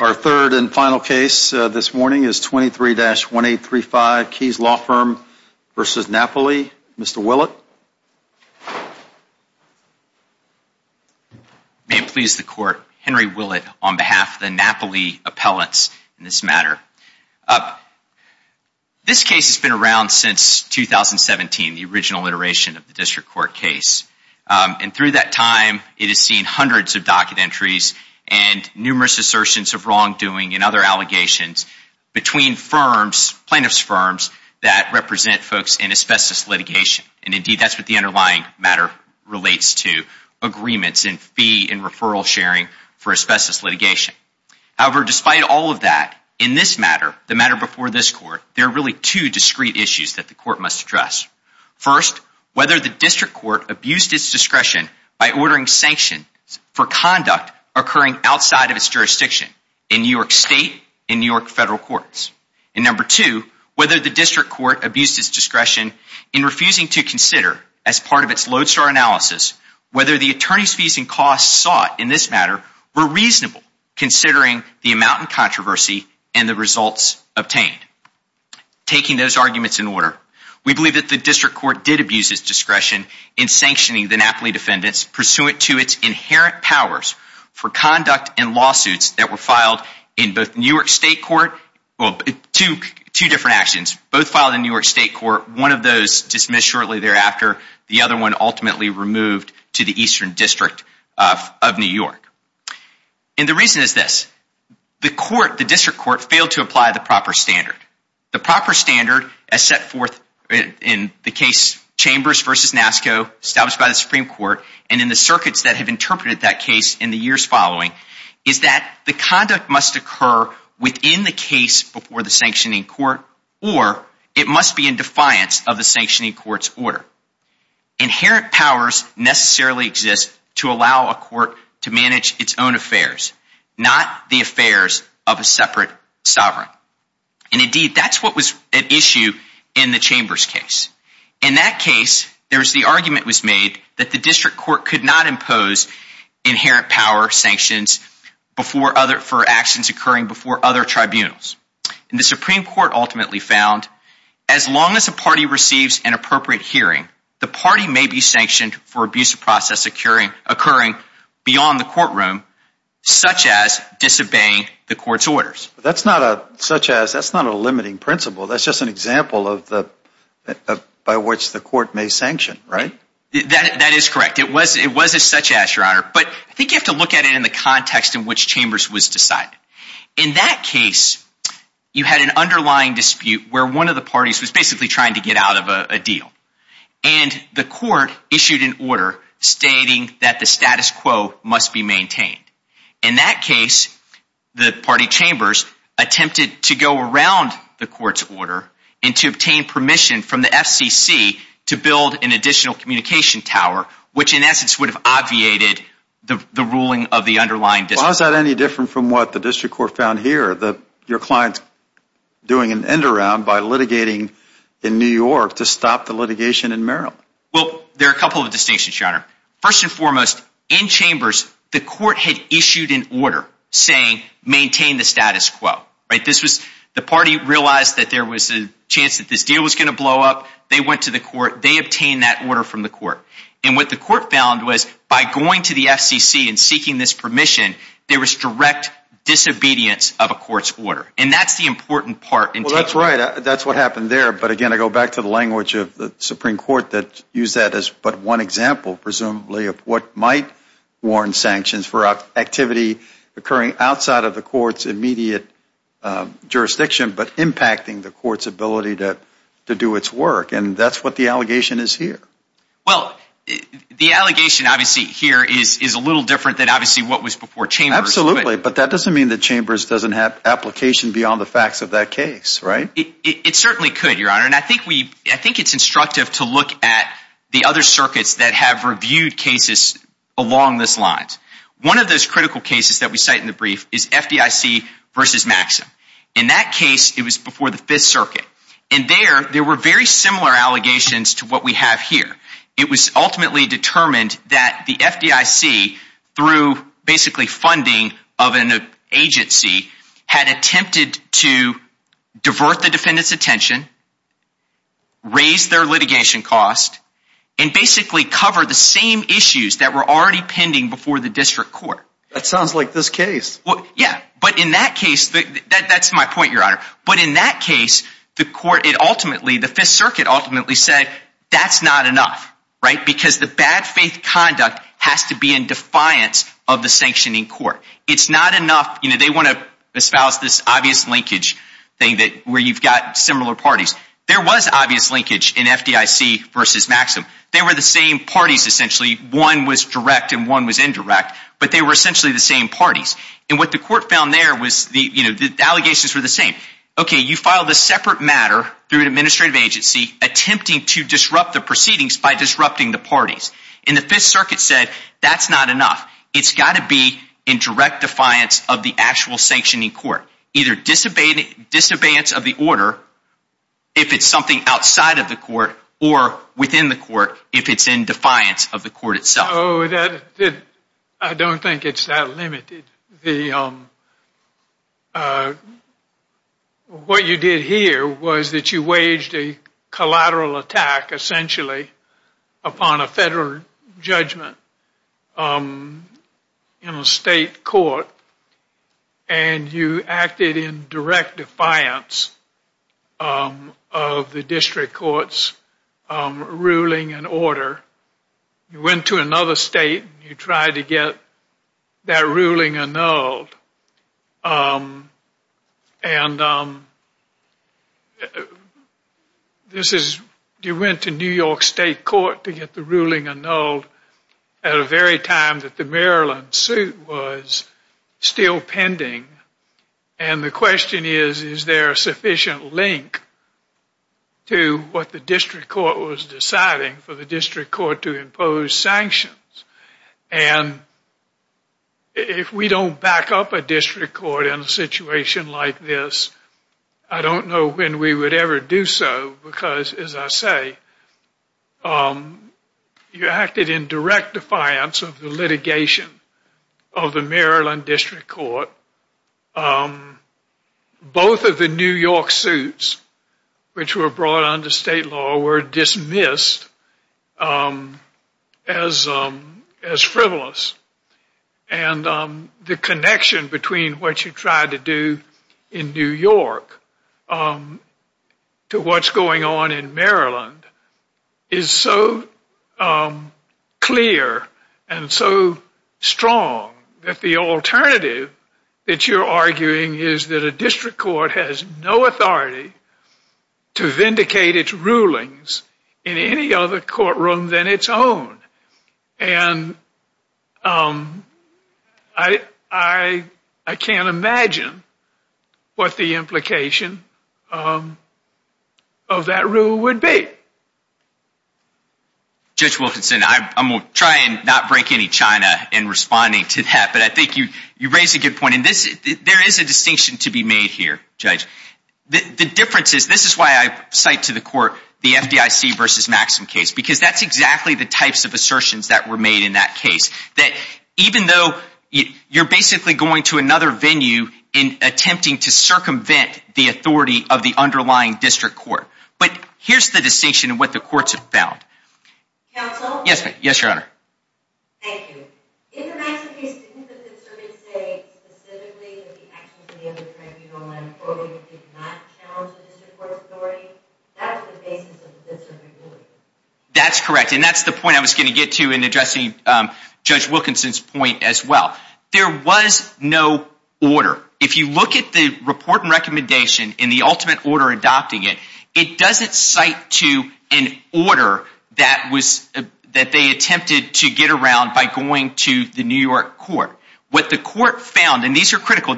Our third and final case this morning is 23-1835 Keys Law Firm v. Napoli. Mr. Willett. May it please the court, Henry Willett on behalf of the Napoli appellants in this matter. This case has been around since 2017, the original iteration of the district court case. And through that time, it has seen hundreds of docket entries and numerous assertions of wrongdoing and other allegations between plaintiff's firms that represent folks in asbestos litigation. And indeed, that's what the underlying matter relates to, agreements and fee and referral sharing for asbestos litigation. However, despite all of that, in this matter, the matter before this court, there are really two discrete issues that the court must address. First, whether the district court abused its discretion by ordering sanctions for conduct occurring outside of its jurisdiction in New York State, in New York Federal Courts. And number two, whether the district court abused its discretion in refusing to consider as part of its lodestar analysis, whether the attorney's fees and costs sought in this matter were reasonable considering the amount in controversy and the results obtained. Taking those arguments in order, we believe that the district court did abuse its discretion in sanctioning the Napoli defendants pursuant to its inherent powers for conduct and lawsuits that were filed in both New York State court, well, two different actions, both filed in New York State court, one of those dismissed shortly thereafter, the other one ultimately removed to the Eastern District of New York. And the reason is this, the court, the district court failed to apply the proper standard. The proper standard as set forth in the case chambers versus NASCO established by the Supreme Court and in the circuits that have interpreted that case in the years following is that the conduct must occur within the case before the sanctioning court, or it must be in defiance of the sanctioning court's order. Inherent powers necessarily exist to allow a court to manage its own affairs, not the affairs of a separate sovereign. And indeed, that's what was at issue in the chambers case. In that case, there was the argument was made that the district court could not impose inherent power sanctions before other, for actions occurring before other tribunals. And the Supreme Court ultimately found as long as a party receives an appropriate hearing, the party may be sanctioned for abuse of process occurring occurring beyond the courtroom, such as disobeying the court's orders. That's not a such as that's not a limiting principle. That's just an example of the by which the court may sanction, right? That is correct. It was it was a such as your honor. But I think you have to look at it in the context in which chambers was decided. In that case, you had an underlying dispute where one of the parties was basically trying to get out of a deal. And the court issued an order stating that the status quo must be maintained. In that case, the party chambers attempted to go around the court's order and to obtain permission from the FCC to build an additional communication tower, which in essence would have obviated the ruling of the underlying dispute. Was that any different from what the district court found here that your client's doing an around by litigating in New York to stop the litigation in Maryland? Well, there are a couple of distinctions, your honor. First and foremost, in chambers, the court had issued an order saying maintain the status quo, right? This was the party realized that there was a chance that this deal was going to blow up. They went to the court. They obtained that order from the court. And what the court found was by going to the FCC and seeking this permission, there was direct disobedience of a court's order. And that's the important part. That's right. That's what happened there. But again, I go back to the language of the Supreme Court that use that as but one example, presumably of what might warrant sanctions for activity occurring outside of the court's immediate jurisdiction, but impacting the court's ability to do its work. And that's what the allegation is here. Well, the allegation obviously here is a little different than obviously what was before chambers. Absolutely. But that doesn't mean the chambers doesn't have application beyond the facts of that case, right? It certainly could, your honor. And I think it's instructive to look at the other circuits that have reviewed cases along this lines. One of those critical cases that we cite in the brief is FDIC versus Maxim. In that case, it was before the Fifth Circuit. And there were very similar allegations to what we have here. It was ultimately determined that the FDIC, through basically funding of an agency, had attempted to divert the defendant's attention, raise their litigation cost, and basically cover the same issues that were already pending before the district court. That sounds like this case. Well, yeah. But in that case, that's my point, your honor. But in that case, the court, it ultimately, the Fifth Circuit ultimately said, that's not enough, right? Because the bad faith conduct has to be in defiance of the sanctioning court. It's not enough, you know, they want to espouse this obvious linkage thing where you've got similar parties. There was obvious linkage in FDIC versus Maxim. They were the same parties, essentially. One was direct and one was indirect. But they were essentially the same parties. And what the court found there was, you know, the allegations were the same. Okay, you filed a separate matter through an administrative agency attempting to disrupt the proceedings by disrupting the parties. And the Fifth Circuit said, that's not enough. It's got to be in direct defiance of the actual sanctioning court. Either disobeyance of the order, if it's something outside of the court, or within the court, if it's in defiance of the court itself. I don't think it's that limited. What you did here was that you waged a collateral attack, essentially, upon a federal judgment in a state court. And you acted in direct defiance of the district court's ruling and order. You went to another state and you tried to get that ruling annulled. And this is, you went to New York State Court to get the ruling annulled at a very time that the Maryland suit was still pending. And the question is, is there a sufficient link to what the district court was deciding for the district court to impose sanctions? And if we don't back up a district court in a situation like this, I don't know when we would ever do so. Because, as I say, you acted in direct defiance of the litigation of the Maryland district court. Both of the New York suits, which were brought under state law, were dismissed as frivolous. And the connection between what you tried to do in New York to what's going on in Maryland is so clear and so strong that the alternative that you're arguing is that a district court has no authority to vindicate its rulings in any other courtroom than its own. And I can't imagine what the implication of that rule would be. Judge Wilkinson, I'm going to try and not break any china in responding to that. But I think you raised a good point. And there is a distinction to be made here, Judge. The difference is, this is why I cite to the court the FDIC versus Maxim case. Because that's exactly the types of assertions that were made in that case. That even though you're basically going to another venue in attempting to circumvent the authority of the underlying district court. But here's the distinction in what the courts have found. Counsel? Yes, Your Honor. Thank you. In the Maxim case, didn't the defense say specifically that the actions of the other tribunal did not challenge the district court's authority? That was the basis of the district ruling. That's correct. And that's the point I was going to get to in addressing Judge Wilkinson's point as well. There was no order. If you look at the report and recommendation in the ultimate to the New York court, what the court found, and these are critical.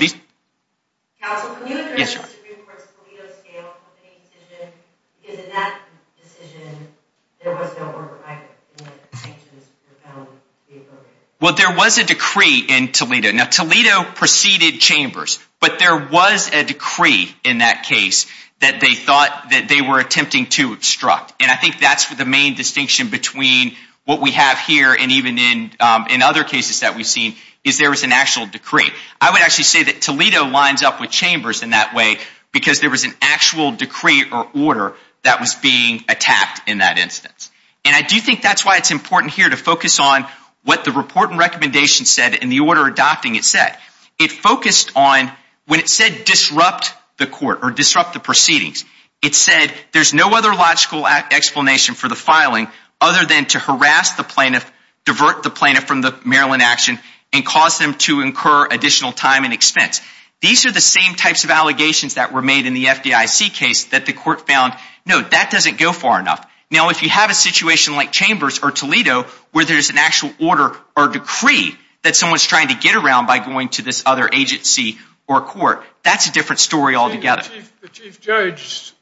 Well, there was a decree in Toledo. Now, Toledo preceded Chambers. But there was a decree in that case that they thought that they were attempting to obstruct. And I think that's the main distinction between what we have here and even in other cases that we've seen, is there was an actual decree. I would actually say that Toledo lines up with Chambers in that way because there was an actual decree or order that was being attacked in that instance. And I do think that's why it's important here to focus on what the report and recommendation said and the order adopting it said. It focused on when it said disrupt the court or disrupt the proceedings, it said there's no other logical explanation for the filing other than to harass the plaintiff, divert the plaintiff from the Maryland action, and cause them to incur additional time and expense. These are the same types of allegations that were made in the FDIC case that the court found, no, that doesn't go far enough. Now, if you have a situation like Chambers or Toledo where there's an actual order or decree that someone's trying to get around by going to this other agency or court, that's a different story altogether. The Chief Judge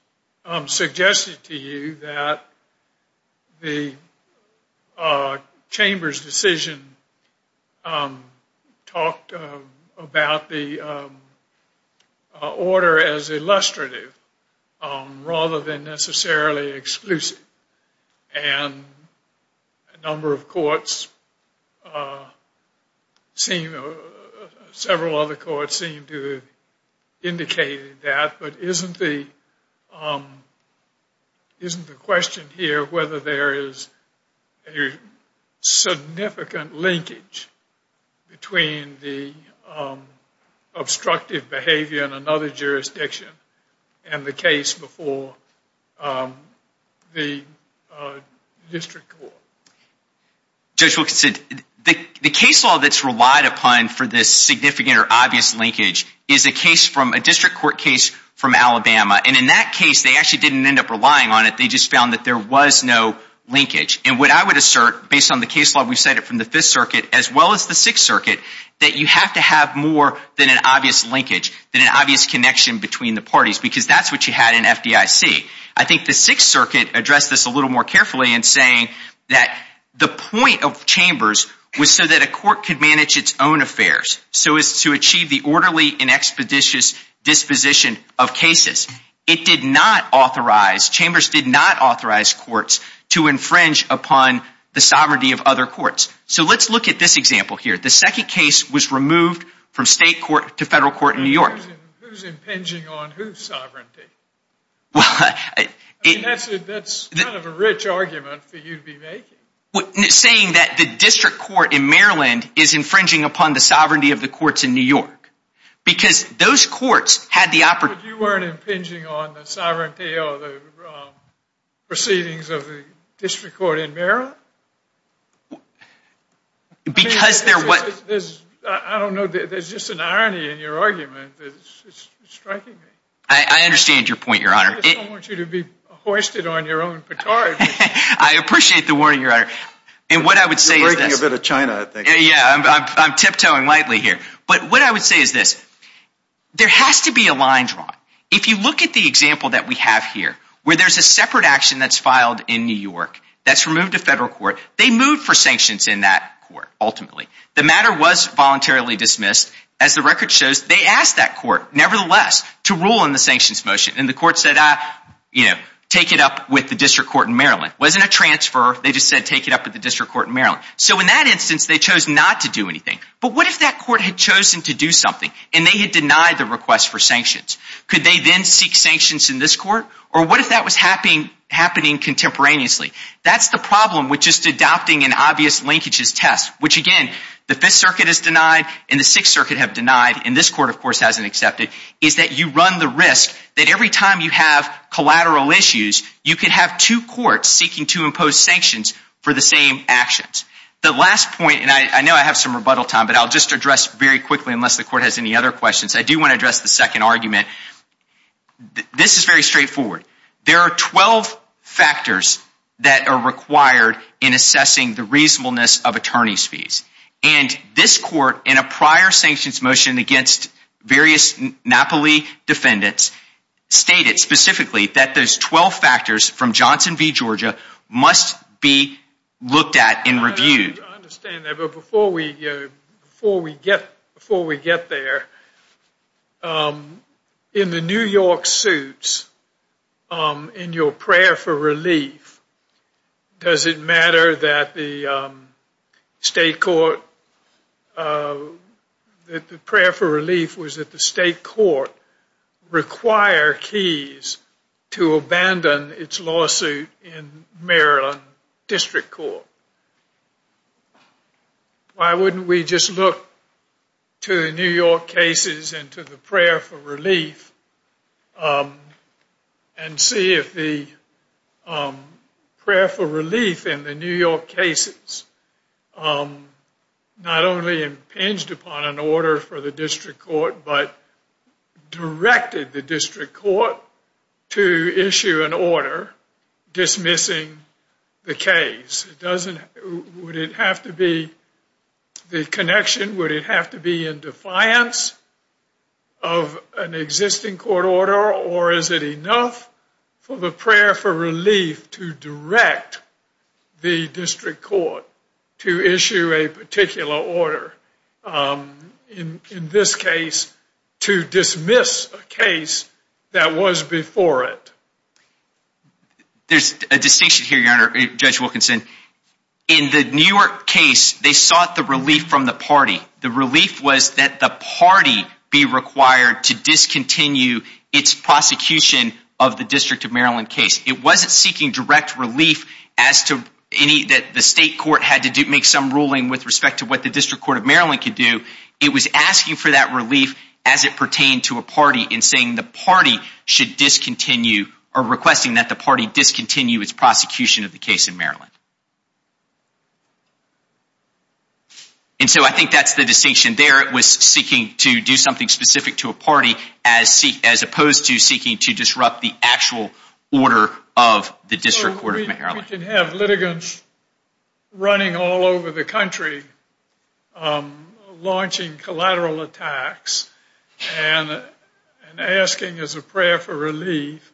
suggested to you that the Chambers decision talked about the order as illustrative rather than necessarily exclusive. And a number of courts seem, several other courts seem to have indicated that. But isn't the question here whether there is a significant linkage between the obstructive behavior in another jurisdiction and the case before the district court? Judge Wilkinson, the case law that's relied upon for this significant or obvious linkage is a case from a district court case from Alabama. And in that case, they actually didn't end up relying on it. They just found that there was no linkage. And what I would assert, based on the case law we've cited from the Fifth Circuit as well as the Sixth Circuit, that you have to have more than an obvious linkage, than an obvious connection between the parties, because that's what you had in FDIC. I think the Sixth Circuit addressed this a little more carefully in saying that the point of Chambers was so that a court could manage its own affairs, so as to achieve the orderly and expeditious disposition of cases. It did not authorize, Chambers did not authorize courts to infringe upon the sovereignty of other courts. So let's look at this example here. The second case was removed from state court to federal court in New York. I mean, that's kind of a rich argument for you to be making. Saying that the district court in Maryland is infringing upon the sovereignty of the courts in New York, because those courts had the opportunity. But you weren't impinging on the sovereignty or the proceedings of the district court in Maryland? Because there was... I don't know, there's just an irony in your argument. It's striking me. I understand your point, Your Honor. I don't want you to be hoisted on your own petard. I appreciate the warning, Your Honor. And what I would say is... You're breaking a bit of China, I think. Yeah, I'm tiptoeing lightly here. But what I would say is this. There has to be a line drawn. If you look at the example that we have here, where there's a separate action that's filed in New York, that's removed to federal court. They moved for sanctions in that court, ultimately. The matter was voluntarily dismissed. As the record shows, they asked that court, nevertheless, to rule in the sanctions motion. And the court said, take it up with the district court in Maryland. It wasn't a transfer. They just said, take it up with the district court in Maryland. So in that instance, they chose not to do anything. But what if that court had chosen to do something, and they had denied the request for sanctions? Could they then seek sanctions in this court? Or what if that was happening contemporaneously? That's the problem with just adopting an obvious linkages test. Which again, the 5th Circuit has denied, and the 6th Circuit have denied, and this court, of course, hasn't accepted, is that you run the risk that every time you have collateral issues, you could have two courts seeking to impose sanctions for the same actions. The last point, and I know I have some rebuttal time, but I'll just address very quickly, unless the court has any other questions. I do want to address the second argument. This is very straightforward. There are 12 factors that are required in assessing the reasonableness of attorney's fees. And this court, in a prior sanctions motion against various Napoli defendants, stated specifically that those 12 factors from Johnson v. Georgia must be looked at and reviewed. I understand that, but before we get there, in the New York suits, in your prayer for relief, does it matter that the state court, that the prayer for relief was that the state court require keys to abandon its lawsuit in to the prayer for relief and see if the prayer for relief in the New York cases not only impinged upon an order for the district court, but directed the district court to issue an order dismissing the case? Would it have to be the connection, would it have to be in defiance of an existing court order, or is it enough for the prayer for relief to direct the district court to issue a particular order, in this case, to dismiss a case that was before it? There's a distinction here, Your Honor, Judge Wilkinson. In the New York case, they sought the relief from the party. The relief was that the party be required to discontinue its prosecution of the District of Maryland case. It wasn't seeking direct relief as to any that the state court had to make some ruling with respect to what the District Court of Maryland could do. It was asking for that relief as it pertained to a party and saying the party should discontinue or requesting that the party discontinue its prosecution of the case in Maryland. And so I think that's the distinction there. It was seeking to do something specific to a party as opposed to seeking to disrupt the actual order of the District Court of Maryland. We can have litigants running all over the country launching collateral attacks and asking as a prayer for relief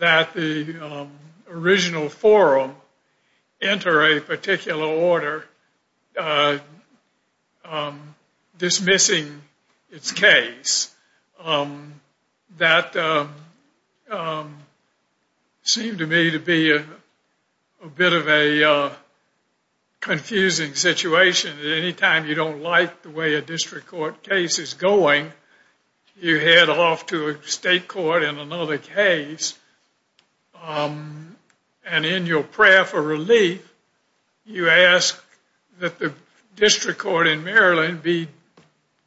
that the original forum enter a particular order dismissing its case. That seemed to me to be a bit of a confusing situation. Anytime you don't like the way a district court case is going, you head off to a state court in another case and in your prayer for relief you ask that the district court in Maryland be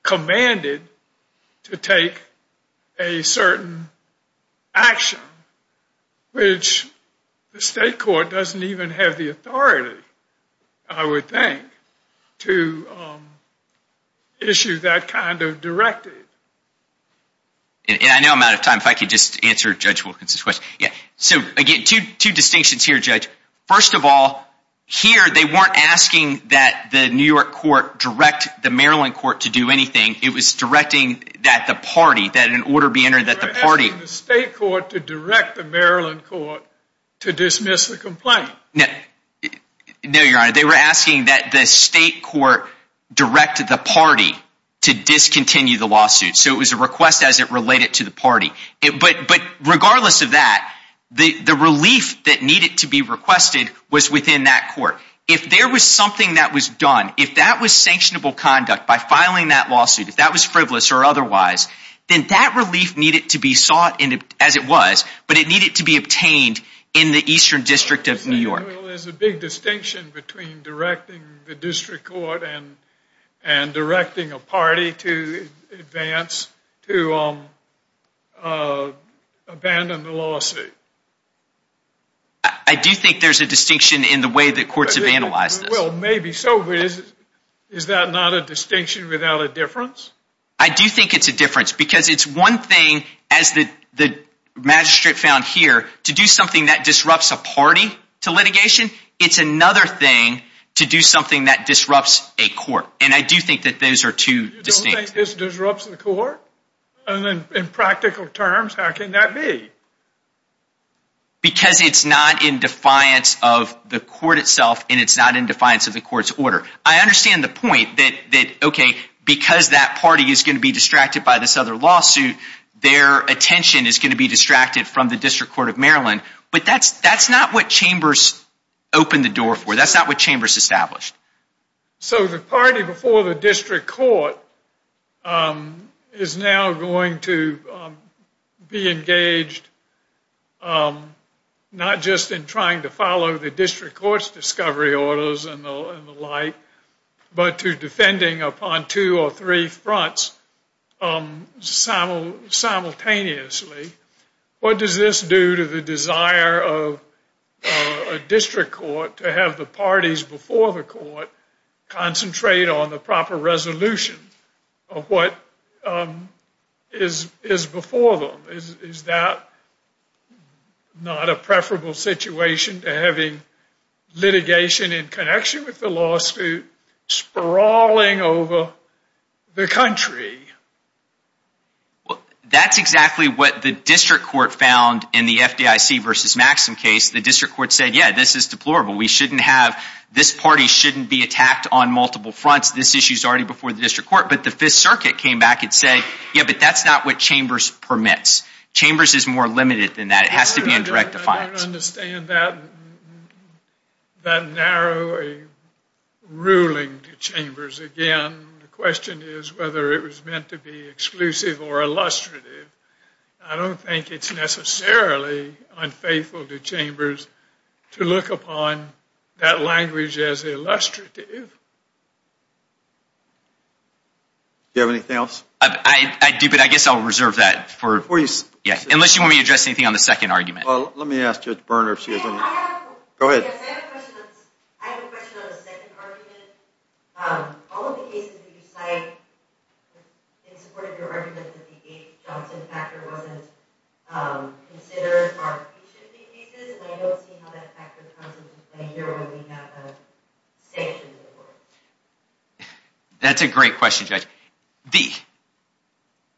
commanded to take a certain action which the state court doesn't even have the authority, I would think, to issue that kind of directive. And I know I'm out of time. If I could just answer Judge Wilkins So again, two distinctions here, Judge. First of all, here they weren't asking that the New York court direct the Maryland court to do anything. It was directing that the party, that an order be entered that the party... They were asking the state court to direct the Maryland court to dismiss the complaint. No, your honor. They were asking that the state court direct the party to discontinue the lawsuit. So it was a request as it related to the party. But regardless of that, the relief that needed to be requested was within that court. If there was something that was done, if that was sanctionable conduct by filing that lawsuit, if that was frivolous or otherwise, then that relief needed to be sought as it was, but it needed to be obtained in the Eastern District of New York. There's a big distinction between directing the district to abandon the lawsuit. I do think there's a distinction in the way that courts have analyzed this. Well, maybe so, but is that not a distinction without a difference? I do think it's a difference because it's one thing as the magistrate found here to do something that disrupts a party to litigation. It's another thing to do something that disrupts a court. And I do think that those two distinctions. You don't think this disrupts the court? In practical terms, how can that be? Because it's not in defiance of the court itself and it's not in defiance of the court's order. I understand the point that, okay, because that party is going to be distracted by this other lawsuit, their attention is going to be distracted from the District Court of Maryland. But that's not what chambers opened the door for. That's not what chambers established. So the party before the District Court is now going to be engaged not just in trying to follow the District Court's discovery orders and the like, but to defending upon two or three fronts simultaneously. What does this do to the desire of a district court to have the parties before the court concentrate on the proper resolution of what is before them? Is that not a preferable situation to having litigation in connection with the lawsuit sprawling over the country? Well, that's exactly what the District Court found in the FDIC versus Maxim case. The District Court said, yeah, this is deplorable. We shouldn't have, this party shouldn't be attacked on multiple fronts. This issue is already before the District Court. But the Fifth Circuit came back and said, yeah, but that's not what chambers permits. Chambers is more limited than that. It has to be in direct defiance. I don't understand that narrow ruling to chambers. Again, the question is whether it was meant to be exclusive or illustrative. I don't think it's necessarily unfaithful to chambers to look upon that language as illustrative. Do you have anything else? I do, but I guess I'll reserve that for, yeah, unless you want me to address anything on the second argument. Well, let me ask Judge Bernhardt. Go ahead. I have a question on the second argument. All of the cases that you cite in support of your argument that the Abe-Johnson factor wasn't considered for our patient cases, and I don't see how that factor comes into play here when we have a sanctioned court. That's a great question, Judge.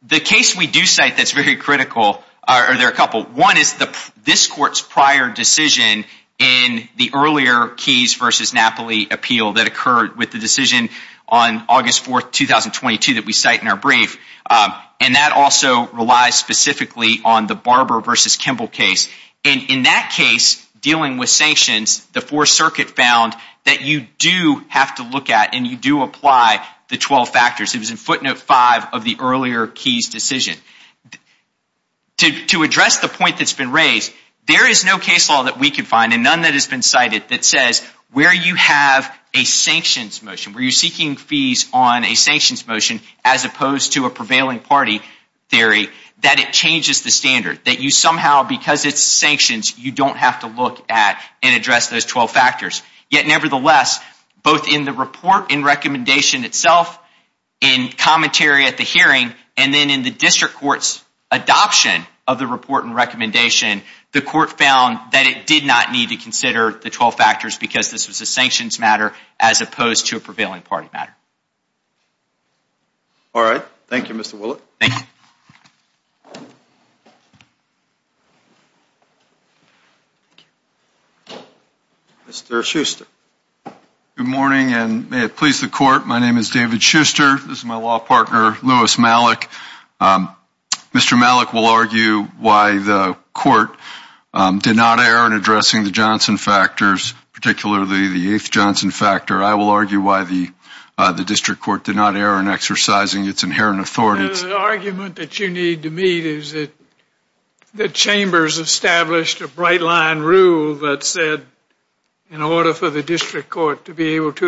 The case we do cite that's very critical, or there are a couple. One is this court's prior decision in the earlier Keyes v. Napoli appeal that occurred with the decision on August 4, 2022, that we cite in our brief, and that also relies specifically on the Barber v. Kimball case. In that case, dealing with sanctions, the Fourth Circuit found that you do have to look at and you do apply the 12 factors. It was in to address the point that's been raised. There is no case law that we could find, and none that has been cited that says where you have a sanctions motion, where you're seeking fees on a sanctions motion as opposed to a prevailing party theory, that it changes the standard, that you somehow, because it's sanctions, you don't have to look at and address those 12 factors. Yet, nevertheless, both in the report and recommendation itself, in commentary at the hearing, and then in the district court's adoption of the report and recommendation, the court found that it did not need to consider the 12 factors because this was a sanctions matter as opposed to a prevailing party matter. All right. Thank you, Mr. Willett. Thank you. Mr. Schuster. Good morning, and may it please the court, my name is David Schuster. This is my law partner, Lewis Malick. Mr. Malick will argue why the court did not err in addressing the Johnson factors, particularly the eighth Johnson factor. I will argue why the district court did not err in exercising its inherent authority. The argument that you need to meet is that the chambers established a bright line rule that said in order for the district court to be obstructive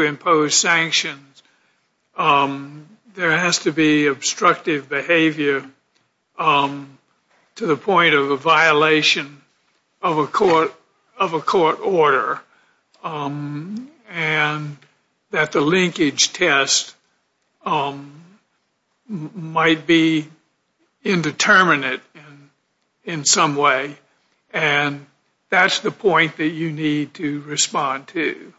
behavior to the point of a violation of a court order, and that the linkage test might be indeterminate in some way, and that's the point that you need to respond to.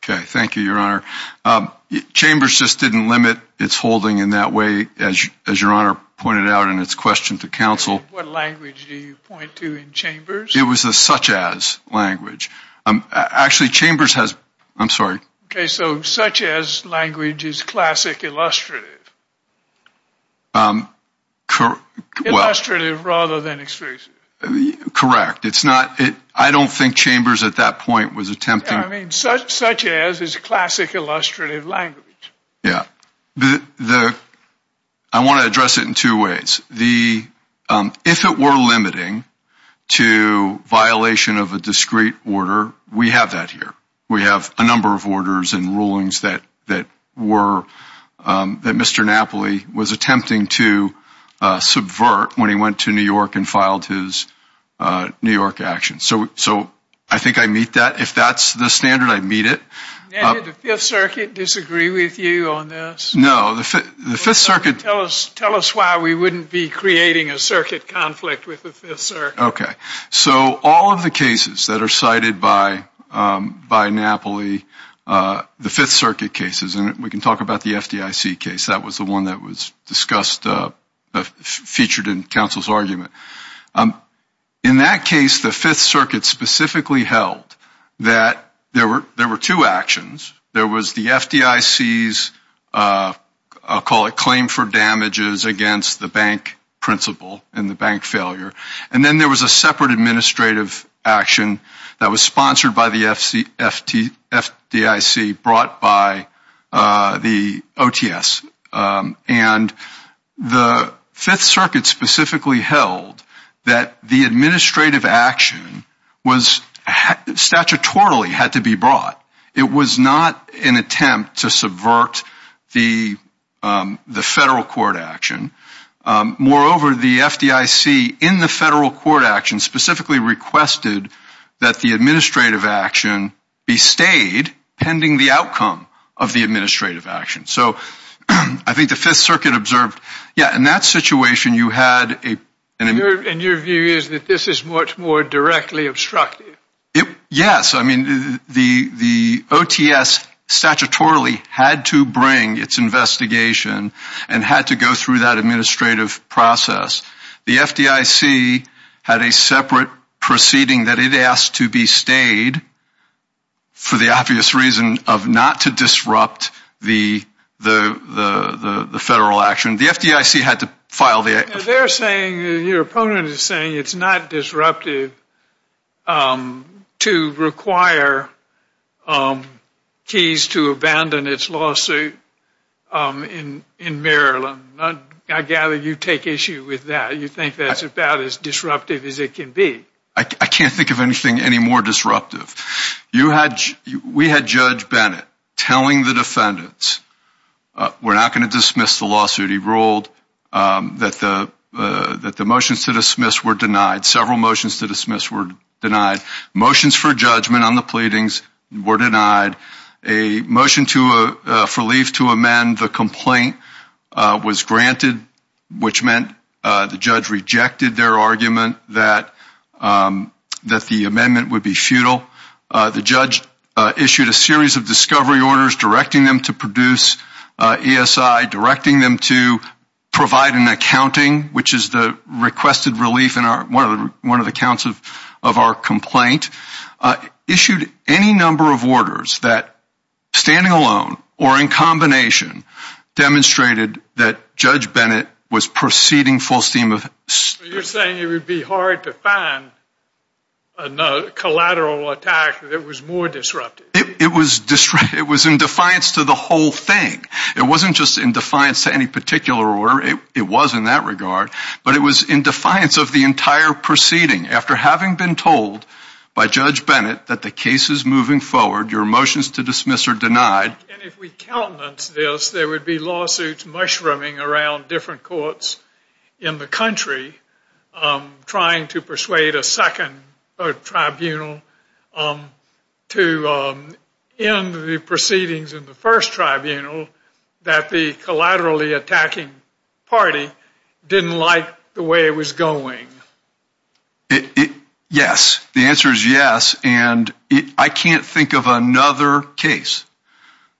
Okay, thank you, your honor. Chambers just didn't limit its holding in that way, as your honor pointed out in its question to counsel. What language do you point to in chambers? It was a such-as language. Actually, chambers has, I'm sorry. Okay, so such-as language is classic illustrative. Illustrative rather than exclusive. Correct. It's not, I don't think chambers at that was attempting. I mean, such-as is classic illustrative language. Yeah, I want to address it in two ways. If it were limiting to violation of a discrete order, we have that here. We have a number of orders and rulings that were, that Mr. Napoli was attempting to subvert when he went to New York and filed his New York actions. So I think I meet that. If that's the standard, I meet it. Now, did the Fifth Circuit disagree with you on this? No, the Fifth Circuit. Tell us why we wouldn't be creating a circuit conflict with the Fifth Circuit. Okay, so all of the cases that are cited by Napoli, the Fifth Circuit cases, and we can talk about the FDIC case. That was the one that was discussed, featured in counsel's argument. In that case, the Fifth Circuit specifically held that there were two actions. There was the FDIC's, I'll call it claim for damages against the bank principle and the bank failure. And then there was a separate administrative action that was by the FDIC brought by the OTS. And the Fifth Circuit specifically held that the administrative action was statutorily had to be brought. It was not an attempt to subvert the federal court action. Moreover, the FDIC in the federal court action specifically requested that the administrative action be stayed pending the outcome of the administrative action. So I think the Fifth Circuit observed, yeah, in that situation, you had a... And your view is that this is much more directly obstructive. Yes. I mean, the OTS statutorily had to bring its investigation and had to go through that administrative process. The FDIC had a separate proceeding that it asked to be stayed for the obvious reason of not to disrupt the federal action. The FDIC had to file the... They're saying, your opponent is saying it's not disruptive to require keys to abandon its lawsuit in Maryland. I gather you take issue with that. You think that's about as disruptive as it can be. I can't think of anything any more disruptive. We had Judge Bennett telling the defendants, we're not going to dismiss the lawsuit. He ruled that the motions to dismiss were denied. Several motions to dismiss were denied. Motions for judgment on the pleadings were denied. A motion for relief to amend the complaint was granted, which meant the judge rejected their argument that the amendment would be futile. The judge issued a series of discovery orders directing them to produce ESI, directing them to provide an accounting, which is the requested relief in one of the of our complaint, issued any number of orders that standing alone or in combination demonstrated that Judge Bennett was proceeding full steam of... You're saying it would be hard to find a collateral attack that was more disruptive. It was in defiance to the whole thing. It wasn't just in defiance to any particular order. It was in that regard, but it was in defiance of the entire proceeding. After having been told by Judge Bennett that the case is moving forward, your motions to dismiss are denied. If we countenance this, there would be lawsuits mushrooming around different courts in the country trying to persuade a second tribunal to end the proceedings in the first tribunal that the collaterally attacking party didn't like the way it was going. Yes. The answer is yes, and I can't think of another case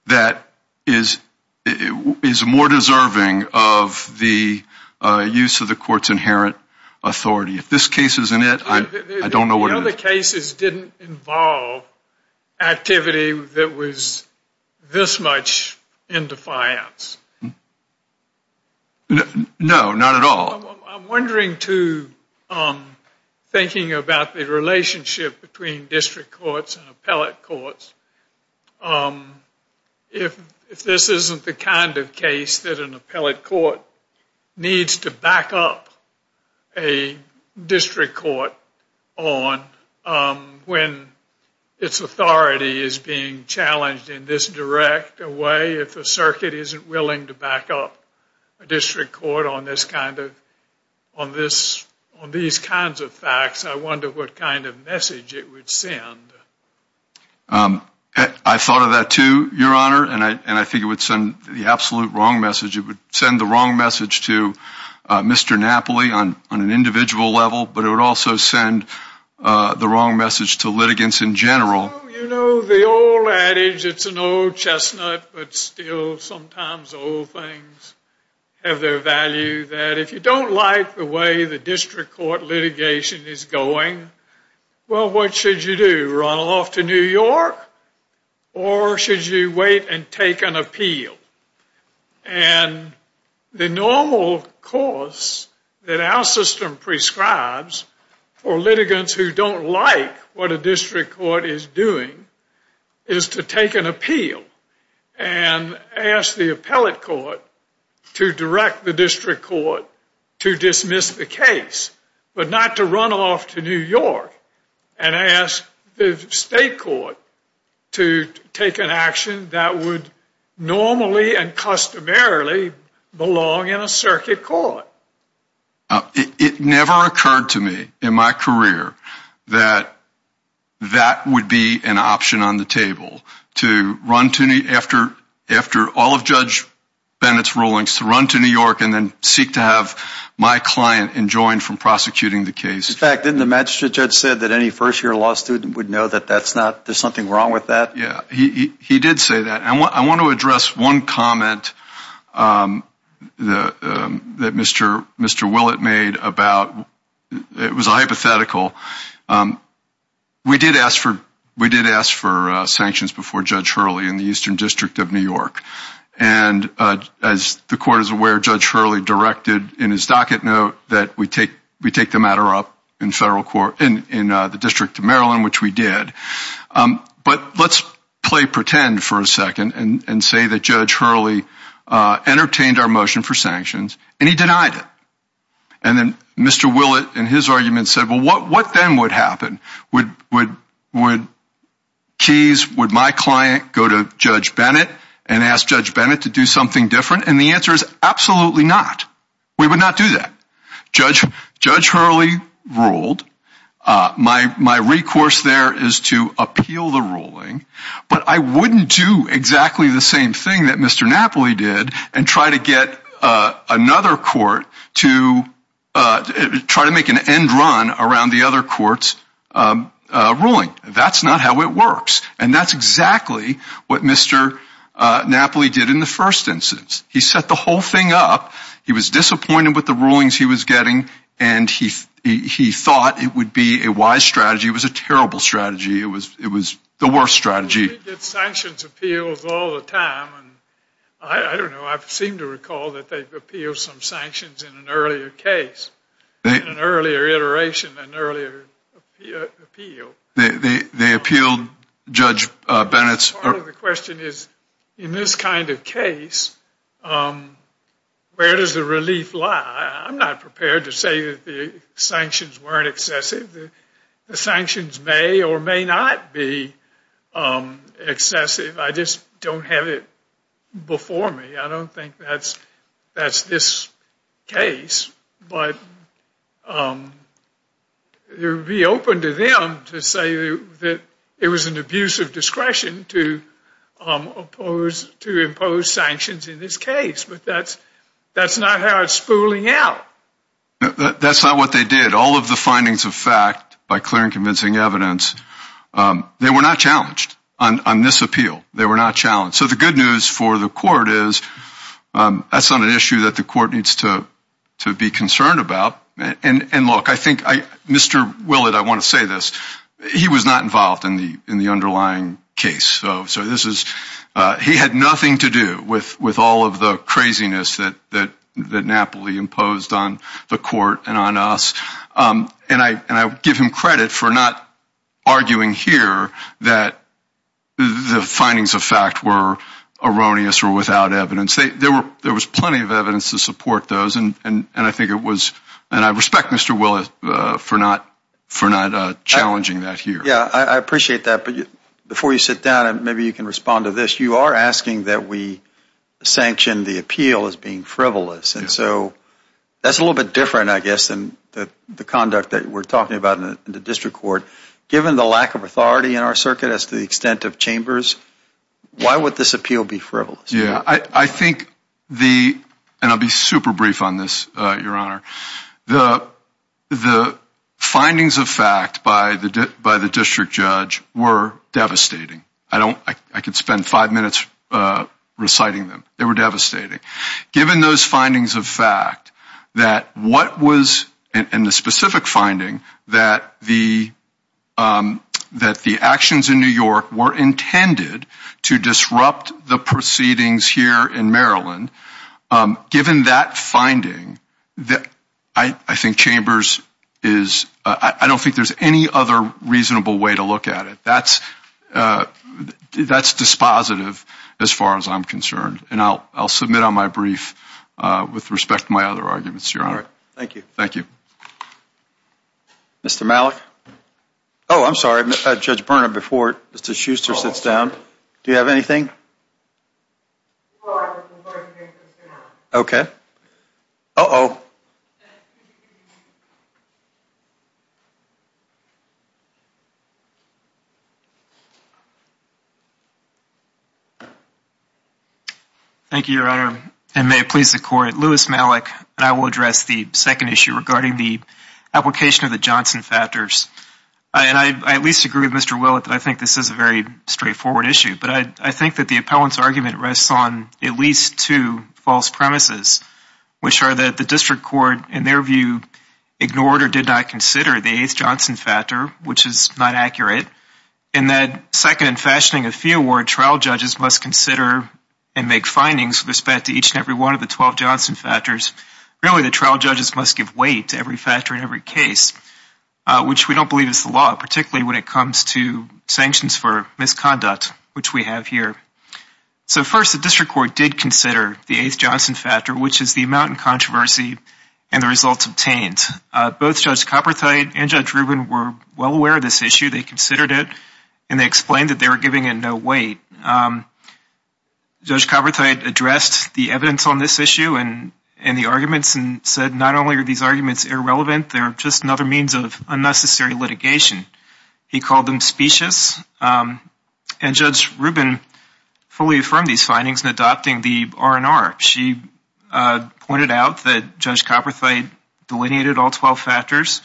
that is more deserving of the use of the court's inherent authority. If this case isn't it, I don't know what it is. The other cases didn't involve activity that was this much in defiance. No, not at all. I'm wondering, too, thinking about the relationship between district courts and appellate courts, if this isn't the kind of case that an appellate court needs to back up a district court on when its authority is being challenged in this direct way if the circuit isn't willing to back up a district court on these kinds of facts, I wonder what kind of message it would send. I thought of that, too, Your Honor, and I think it would send the absolute wrong message. It would send the wrong message to Mr. Napoli on an individual level, but it would also send the wrong message to litigants in general. You know the old adage, it's an old chestnut, but still sometimes old things have their value, that if you don't like the way the district court litigation is going, well, what should you do? Run off to New York or should you wait and take an appeal? And the normal course that our system prescribes for litigants who don't like what a and ask the appellate court to direct the district court to dismiss the case, but not to run off to New York and ask the state court to take an action that would normally and customarily belong in a circuit court. It never occurred to me in my career that that would be an option on the table to run to New York after all of Judge Bennett's rulings, to run to New York and then seek to have my client enjoined from prosecuting the case. In fact, didn't the magistrate judge say that any first-year law student would know that there's something wrong with that? Yeah, he did say that. And I want to address one comment that Mr. Willett made about, it was a hypothetical, we did ask for sanctions before Judge Hurley in the Eastern District of New York. And as the court is aware, Judge Hurley directed in his docket note that we take the matter up in the District of Maryland, which we did. But let's play pretend for a second and say that Judge Hurley entertained our motion for sanctions and he denied it. And then Mr. Willett in his argument said, well, what then would happen? Would Keys, would my client go to Judge Bennett and ask Judge Bennett to do something different? And the answer is, absolutely not. We would not do that. Judge Hurley ruled. My recourse there is to appeal the ruling. But I wouldn't do exactly the same thing that Mr. Napoli did and try to get another court to try to make an end run around the other court's ruling. That's not how it works. And that's exactly what Mr. Napoli did in the first instance. He set the whole thing up. He was disappointed with the rulings he was getting. And he thought it would be a wise strategy. It was a terrible strategy. It was the worst strategy. We get sanctions appeals all the time. I don't know. I seem to recall that they appealed some sanctions in an earlier case, in an earlier iteration, an earlier appeal. They appealed Judge Bennett's... Part of the question is, in this kind of case, where does the relief lie? I'm not prepared to say that the sanctions weren't excessive. The sanctions may or may not be excessive. I just don't have it before me. I don't think that's this case. But it would be open to them to say that it was an abuse of discretion to impose sanctions in this case. But that's not how it's spooling out. That's not what they did. All of the findings of fact, by clear and convincing evidence, they were not challenged on this appeal. They were not challenged. So the good news for the court is that's not an issue that the court needs to be concerned about. And look, I think Mr. Willett, I want to say this, he was not involved in the underlying case. So this is... He had nothing to do with all of the craziness that Napoli imposed on the court and on us. And I give him credit for not arguing here that the findings of fact were erroneous or without evidence. There was plenty of evidence to support those. And I think it was... And I respect Mr. Willett for not challenging that here. Yeah, I appreciate that. But before you sit down, maybe you can respond to this. You are asking that we sanction the appeal as being frivolous. And so that's a little bit different, I guess, than the conduct that we're talking about in the district court. Given the lack of authority in our circuit as to the extent of chambers, why would this appeal be frivolous? Yeah, I think the... And I'll be super brief on this, Your Honor. The findings of fact by the district judge were devastating. I don't... I could spend five minutes reciting them. They were devastating. Given those findings of fact, that what was... And the specific finding that the actions in New York were intended to disrupt the proceedings here in Maryland, given that finding, I think chambers is... I don't think there's any other reasonable way to look at it. That's dispositive as far as I'm concerned. And I'll submit on my brief with respect to my other arguments, Your Honor. All right. Thank you. Thank you. Mr. Malik? Oh, I'm sorry. Judge Berna, before Mr. Schuster sits down, do you have anything? Well, I just wanted to make this clear. Okay. Uh-oh. Thank you, Your Honor. And may it please the court, Louis Malik, and I will address the second issue regarding the application of the Johnson factors. And I at least agree with Mr. Willett that I think this is a very straightforward issue. But I think that the appellant's argument rests on at least two false premises, which are that the district court, in their view, ignored or did not consider the eighth Johnson factor, which is not accurate. And that second, fashioning a fee award, trial judges must consider and make findings with respect to each and every one of the 12 Johnson factors. Really, the trial judges must give weight to every factor in every case, which we don't believe is the law, particularly when it comes to sanctions for misconduct, which we have here. So first, the district court did consider the eighth Johnson factor, which is the amount in controversy and the results obtained. Both Judge Copperthite and Judge Rubin were well aware of this issue. They considered it and they explained that they were giving it no weight. Judge Copperthite addressed the evidence on this issue and the arguments and said not only are these arguments irrelevant, they're just another means of unnecessary litigation. He called them specious. And Judge Rubin fully affirmed these findings in adopting the R&R. She pointed out that Judge Copperthite delineated all 12 factors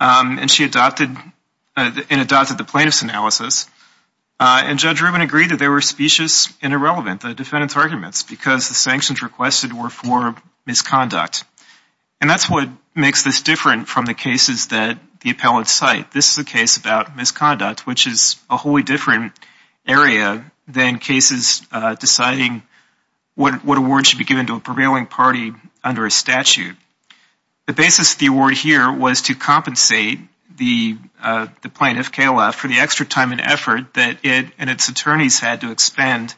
and she adopted and adopted the plaintiff's analysis. And Judge Rubin agreed that they were specious and irrelevant, the defendant's arguments, because the sanctions requested were for misconduct. And that's what makes this different from the cases that the appellants cite. This is a case about misconduct, which is a wholly different area than cases deciding what award should be given to a prevailing party under a statute. The basis of the award here was to compensate the plaintiff, KLF, for the extra time and effort that it and its attorneys had to expend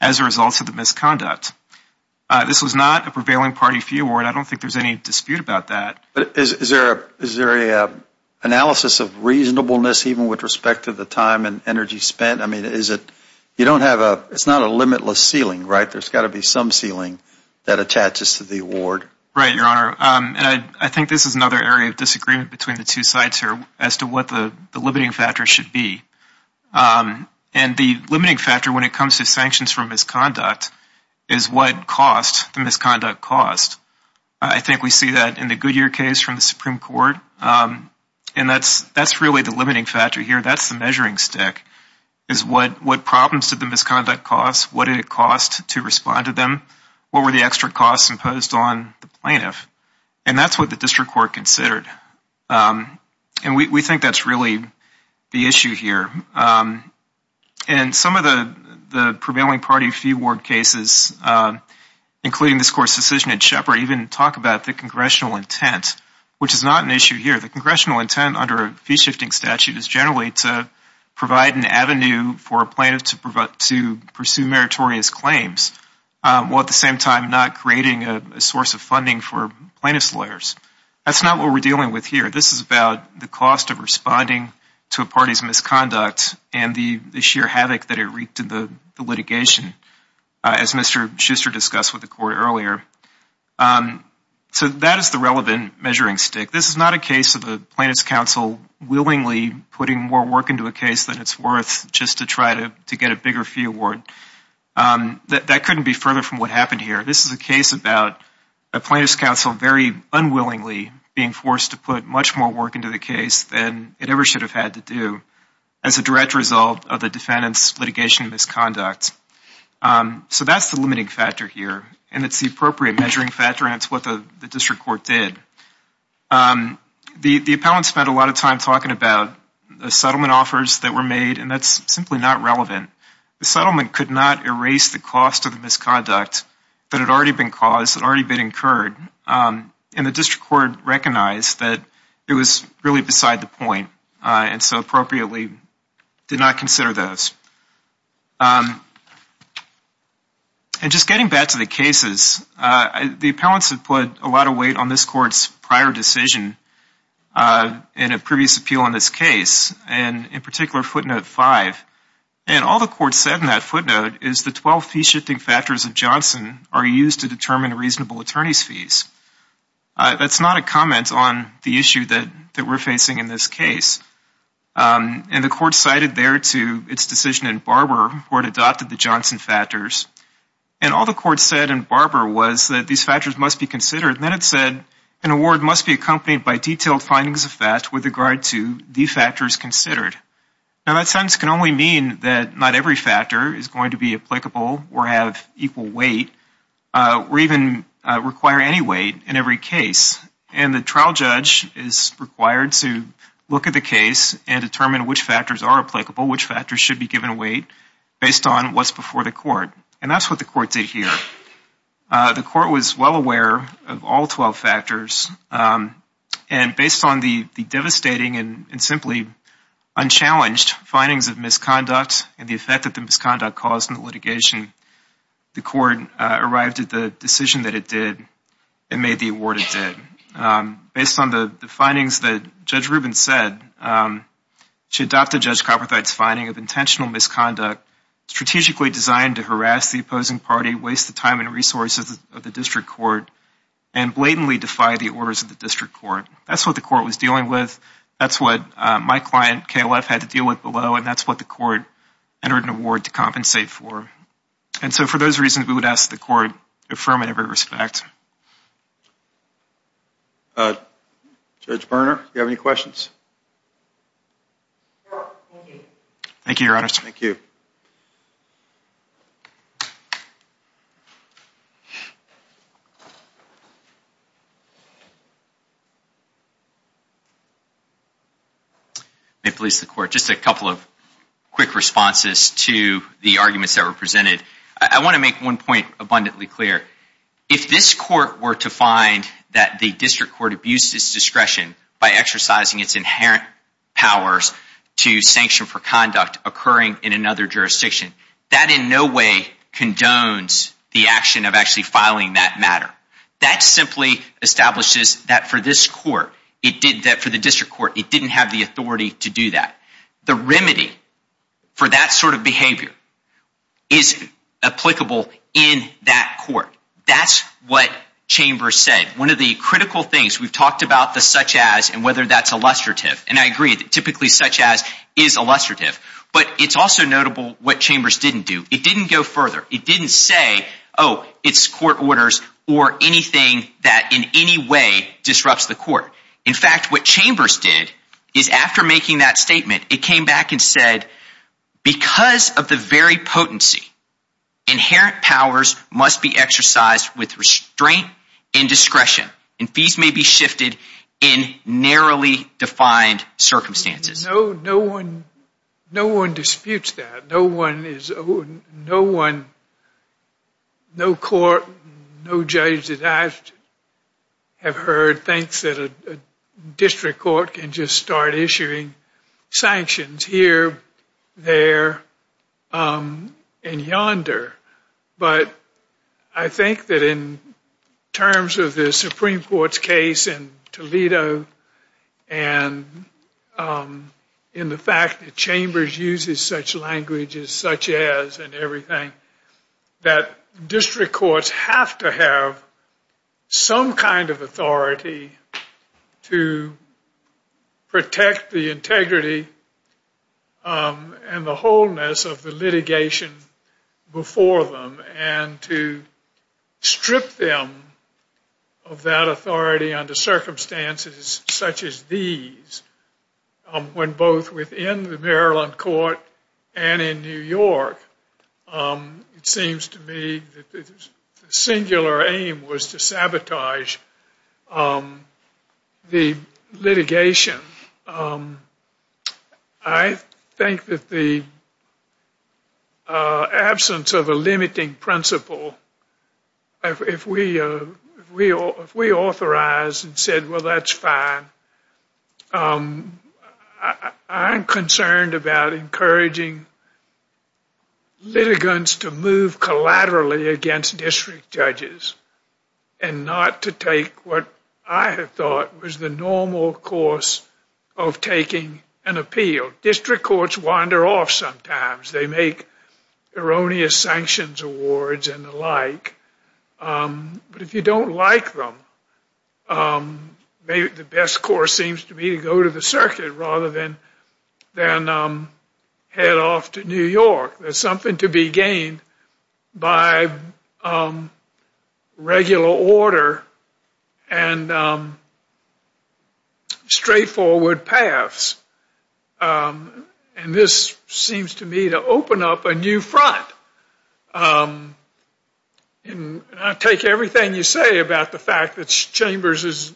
as a result of the misconduct. This was not a prevailing party fee award. I don't think there's any dispute about that. But is there a analysis of reasonableness even with respect to the time and energy spent? I mean, is it, you don't have a, it's not a limitless ceiling, right? There's got to be some ceiling that attaches to the award. Right, Your Honor. And I think this is another area of disagreement between the two sides here as to what the limiting factor should be. And the limiting factor when it comes to sanctions for misconduct is what cost the misconduct cost. I think we see that in the Goodyear case from the Supreme Court. And that's really the limiting factor here. That's the measuring stick, is what problems did the misconduct cost? What did it cost to respond to them? What were the extra costs imposed on the plaintiff? And that's what the district court considered. And we think that's really the issue here. And some of the prevailing party fee award cases, including this court's decision in Shepard, even talk about the congressional intent, which is not an issue here. The congressional intent under a fee-shifting statute is generally to provide an avenue for a plaintiff to pursue meritorious claims, while at the same time not creating a source of funding for plaintiff's lawyers. That's not what we're dealing with here. This is about the cost of responding to a party's misconduct and the sheer havoc that it wreaked in the litigation, as Mr. Schuster discussed with the court earlier. So that is the relevant measuring stick. This is not a case of a plaintiff's counsel willingly putting more work into a case than it's worth just to try to get a bigger fee award. That couldn't be further from what happened here. This is a case about a plaintiff's counsel very unwillingly being forced to put much more work into the case than it ever should have had to do as a direct result of the defendant's litigation misconduct. So that's the limiting factor here, and it's the appropriate measuring factor, and it's what the district court did. The appellant spent a lot of time talking about the settlement offers that were made, and that's simply not relevant. The settlement could not erase the cost of the misconduct that had already been caused, that had already been incurred, and the district court recognized that it was really beside the point and so appropriately did not consider those. And just getting back to the cases, the appellants have put a lot of weight on this court's prior decision in a previous appeal in this case, and in particular footnote five. And all the court said in that footnote is the 12 fee shifting factors of Johnson are used to determine reasonable attorney's fees. That's not a comment on the issue that we're facing in this case. And the court cited there to its decision in Barber where it adopted the Johnson factors, and all the court said in Barber was that these factors must be considered, and then it said an award must be accompanied by detailed findings of that with regard to the factors considered. Now that sentence can only mean that not every factor is going to be applicable or have equal weight or even require any weight in every case. And the trial judge is required to look at the case and determine which factors are applicable, which factors should be given weight based on what's before the court. And that's what the court did here. The court was well aware of all 12 factors and based on the devastating and simply unchallenged findings of misconduct and the court arrived at the decision that it did and made the award it did. Based on the findings that Judge Rubin said, she adopted Judge Copperthwite's finding of intentional misconduct strategically designed to harass the opposing party, waste the time and resources of the district court, and blatantly defy the orders of the district court. That's what the court was dealing with. That's what my client, KLF, had to deal with below, and that's what the court entered an award to compensate for. And so for those reasons, we would ask the court to affirm in every respect. Judge Berner, do you have any questions? Thank you, Your Honor. Thank you. May it please the court, just a couple of quick responses to the arguments that were presented. I want to make one point abundantly clear. If this court were to find that the district court abused its discretion by exercising its inherent powers to sanction for conduct occurring in another jurisdiction, that in no way condones the action of actually filing that matter. That simply establishes that for this court, it did that for the district court. It didn't have the authority to do that. The remedy for that sort of behavior is applicable in that court. That's what Chambers said. One of the critical things we've talked about the such-as and whether that's illustrative, and I agree that typically such-as is illustrative, but it's also notable what Chambers didn't do. It didn't go further. It didn't say, oh, it's court orders or anything that in any way disrupts the court. In fact, what Chambers did is after making that statement, it came back and said, because of the very potency, inherent powers must be exercised with restraint and discretion and fees may be shifted in narrowly defined circumstances. No one disputes that. No court, no judge that I have heard thinks that a district court can just start issuing sanctions here, there, and yonder, but I think that in terms of the Supreme Court's case in Toledo and in the fact that Chambers uses such languages, such-as and everything, that district courts have to have some kind of authority to protect the integrity and the wholeness of the litigation before them and to strip them of that authority under circumstances such as these, when both within the Maryland court and in New York, it seems to me that the singular aim was to sabotage the litigation. I think that the absence of a limiting principle, if we authorize and said, well, that's fine, I'm concerned about encouraging litigants to move collaterally against district judges and not to take what I have thought was the normal course of taking an appeal. District courts wander off sometimes. They make erroneous sanctions awards and the like, but if you don't like them, maybe the best course seems to me to go to the circuit rather than head off to New York. There's something to be gained by regular order and straightforward paths, and this seems to me to open up a new front, and I take everything you say about the fact that Chambers is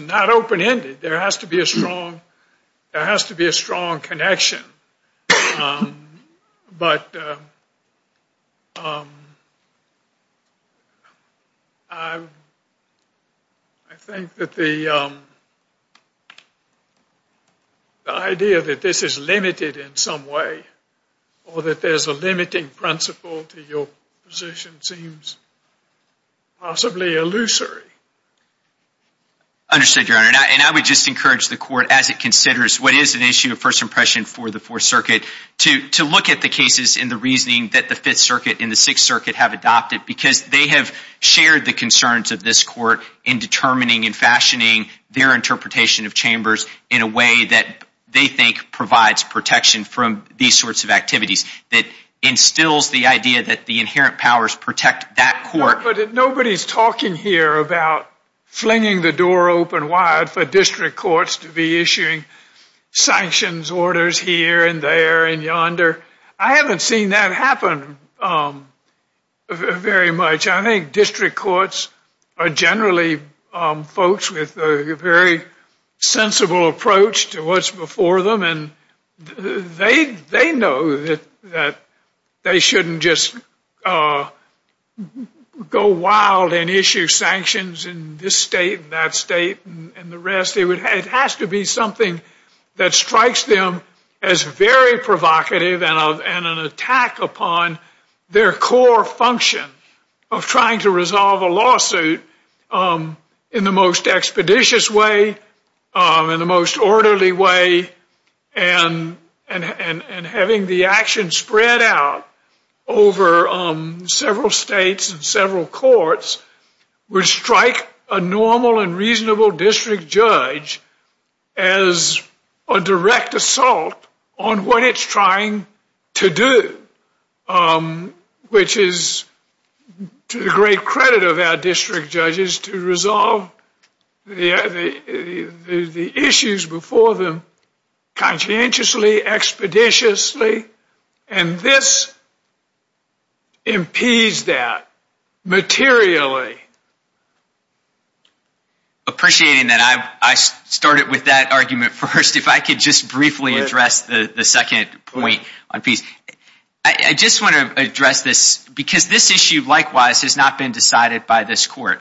not open-ended. There has to be a strong connection, but I think that the idea that this is limited in some way or that there's a limiting principle to your position seems possibly illusory. Understood, Your Honor, and I would just encourage the court, as it considers what is an issue of first impression for the Fourth Circuit, to look at the cases in the reasoning that the Fifth Circuit and the Sixth Circuit have adopted, because they have shared the concerns of this court in determining and fashioning their interpretation of Chambers in a way that they think provides protection from these sorts of activities that instills the idea that the inherent powers protect that court. But nobody's talking here about flinging the door open wide for district courts to be issuing sanctions orders here and there and yonder. I haven't seen that happen very much. I think district courts are generally folks with a very sensible approach to what's before them, and they know that they shouldn't just go wild and issue sanctions in this state and that state and the rest. It has to be something that strikes them as very provocative and an attack upon their core function of trying to resolve a lawsuit in the most expeditious way, in the most orderly way, and having the action spread out over several states and several courts would strike a normal and reasonable district judge as a direct assault on what it's trying to do, which is to the great credit of our district judges to resolve the issues before them conscientiously, expeditiously, and this impedes that materially. Appreciating that, I started with that argument first. If I could just briefly address the second point on fees. I just want to address this because this issue likewise has not been decided by this court.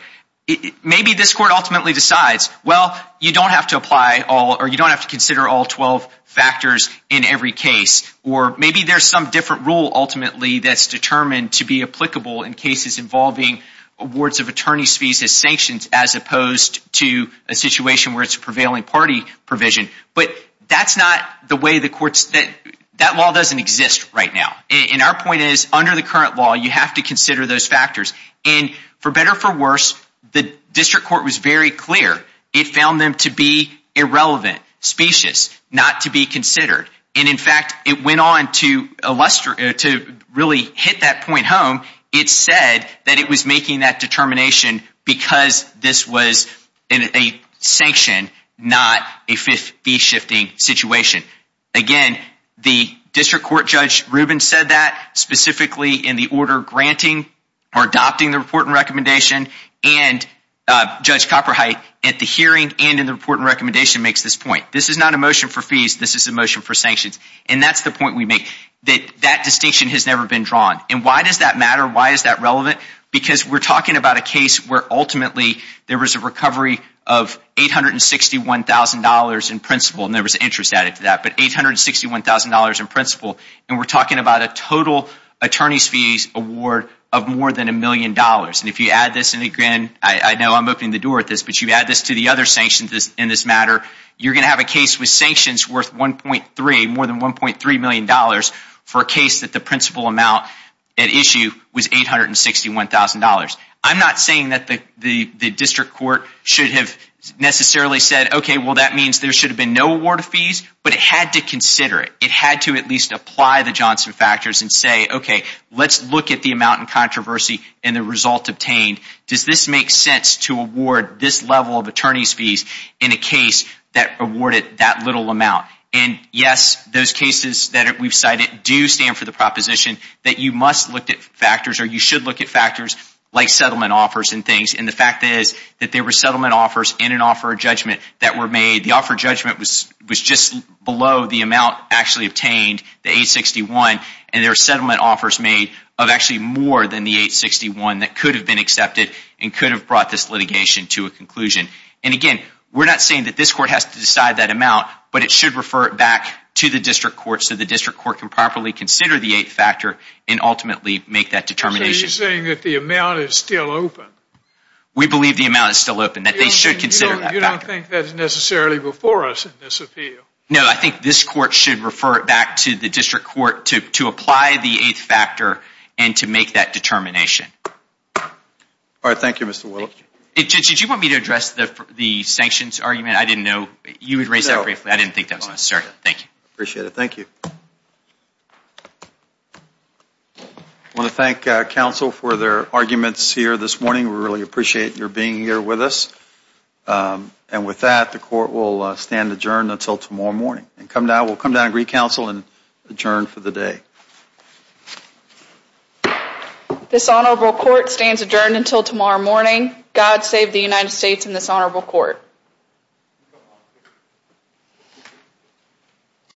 Maybe this court ultimately decides, well, you don't have to consider all 12 factors in every case, or maybe there's some different rule ultimately that's determined to be applicable in cases involving awards of attorney's fees as sanctions as opposed to a situation where it's a prevailing party provision, but that law doesn't exist right now. Our point is, under the current law, you have to consider those factors. For better or for worse, the district court was very clear. It found them to be irrelevant, specious, not to be considered. In fact, it went on to really hit that point home. It said that it was making that determination because this was a sanction, not a fee-shifting situation. Again, the district court Judge Rubin said that, specifically in the order granting or adopting the report and recommendation, and Judge Copperheight at the hearing and in the report and recommendation makes this point. This is not a motion for fees. This is a motion for sanctions, and that's the point we make, that that distinction has never been drawn. Why does that matter? Why is that relevant? Because we're talking about a case where, ultimately, there was a recovery of $861,000 in principle, and there was interest added to that, but $861,000 in principle, and we're talking about a total attorney's fees award of more than a million dollars. If you add this, and again, I know I'm opening the door at this, but you add this to the other sanctions in this matter, you're going to have a case with sanctions worth more than $1.3 million for a case that the principal amount at issue was $861,000. I'm not saying that the district court should have necessarily said, okay, well, that means there should have been no award of fees, but it had to consider it. It had to at least apply the Johnson factors and say, okay, let's look at the amount in controversy and the result obtained. Does this make sense to award this level of attorney's fees in a case that awarded that little amount? And yes, those cases that we've cited do stand for the proposition that you must look at factors, or you should look at factors like settlement offers and things, and the fact is that there were settlement offers in an offer of judgment that were made. The offer of judgment was just below the amount actually obtained, the $861,000, and there were settlement offers made of actually more than the $861,000 that could have been accepted and could have brought this litigation to a conclusion. And again, we're not saying that this court has to decide that amount, but it should refer it back to the district court so the district court can properly consider the eighth factor and ultimately make that determination. So you're saying that the amount is still open? We believe the amount is still open, that they should consider that factor. You don't think that's necessarily before us in this appeal? No, I think this court should refer it back to the district court to apply the eighth factor and to make that determination. All right, thank you, Mr. Willips. Did you want me to address the sanctions argument? I didn't think that was necessary. Thank you. I want to thank counsel for their arguments here this morning. We really appreciate your being here with us. And with that, the court will stand adjourned until tomorrow morning. We'll come down and re-counsel and adjourn for the day. This honorable court stands adjourned until tomorrow morning. God save the United States and this honorable court. Thank you.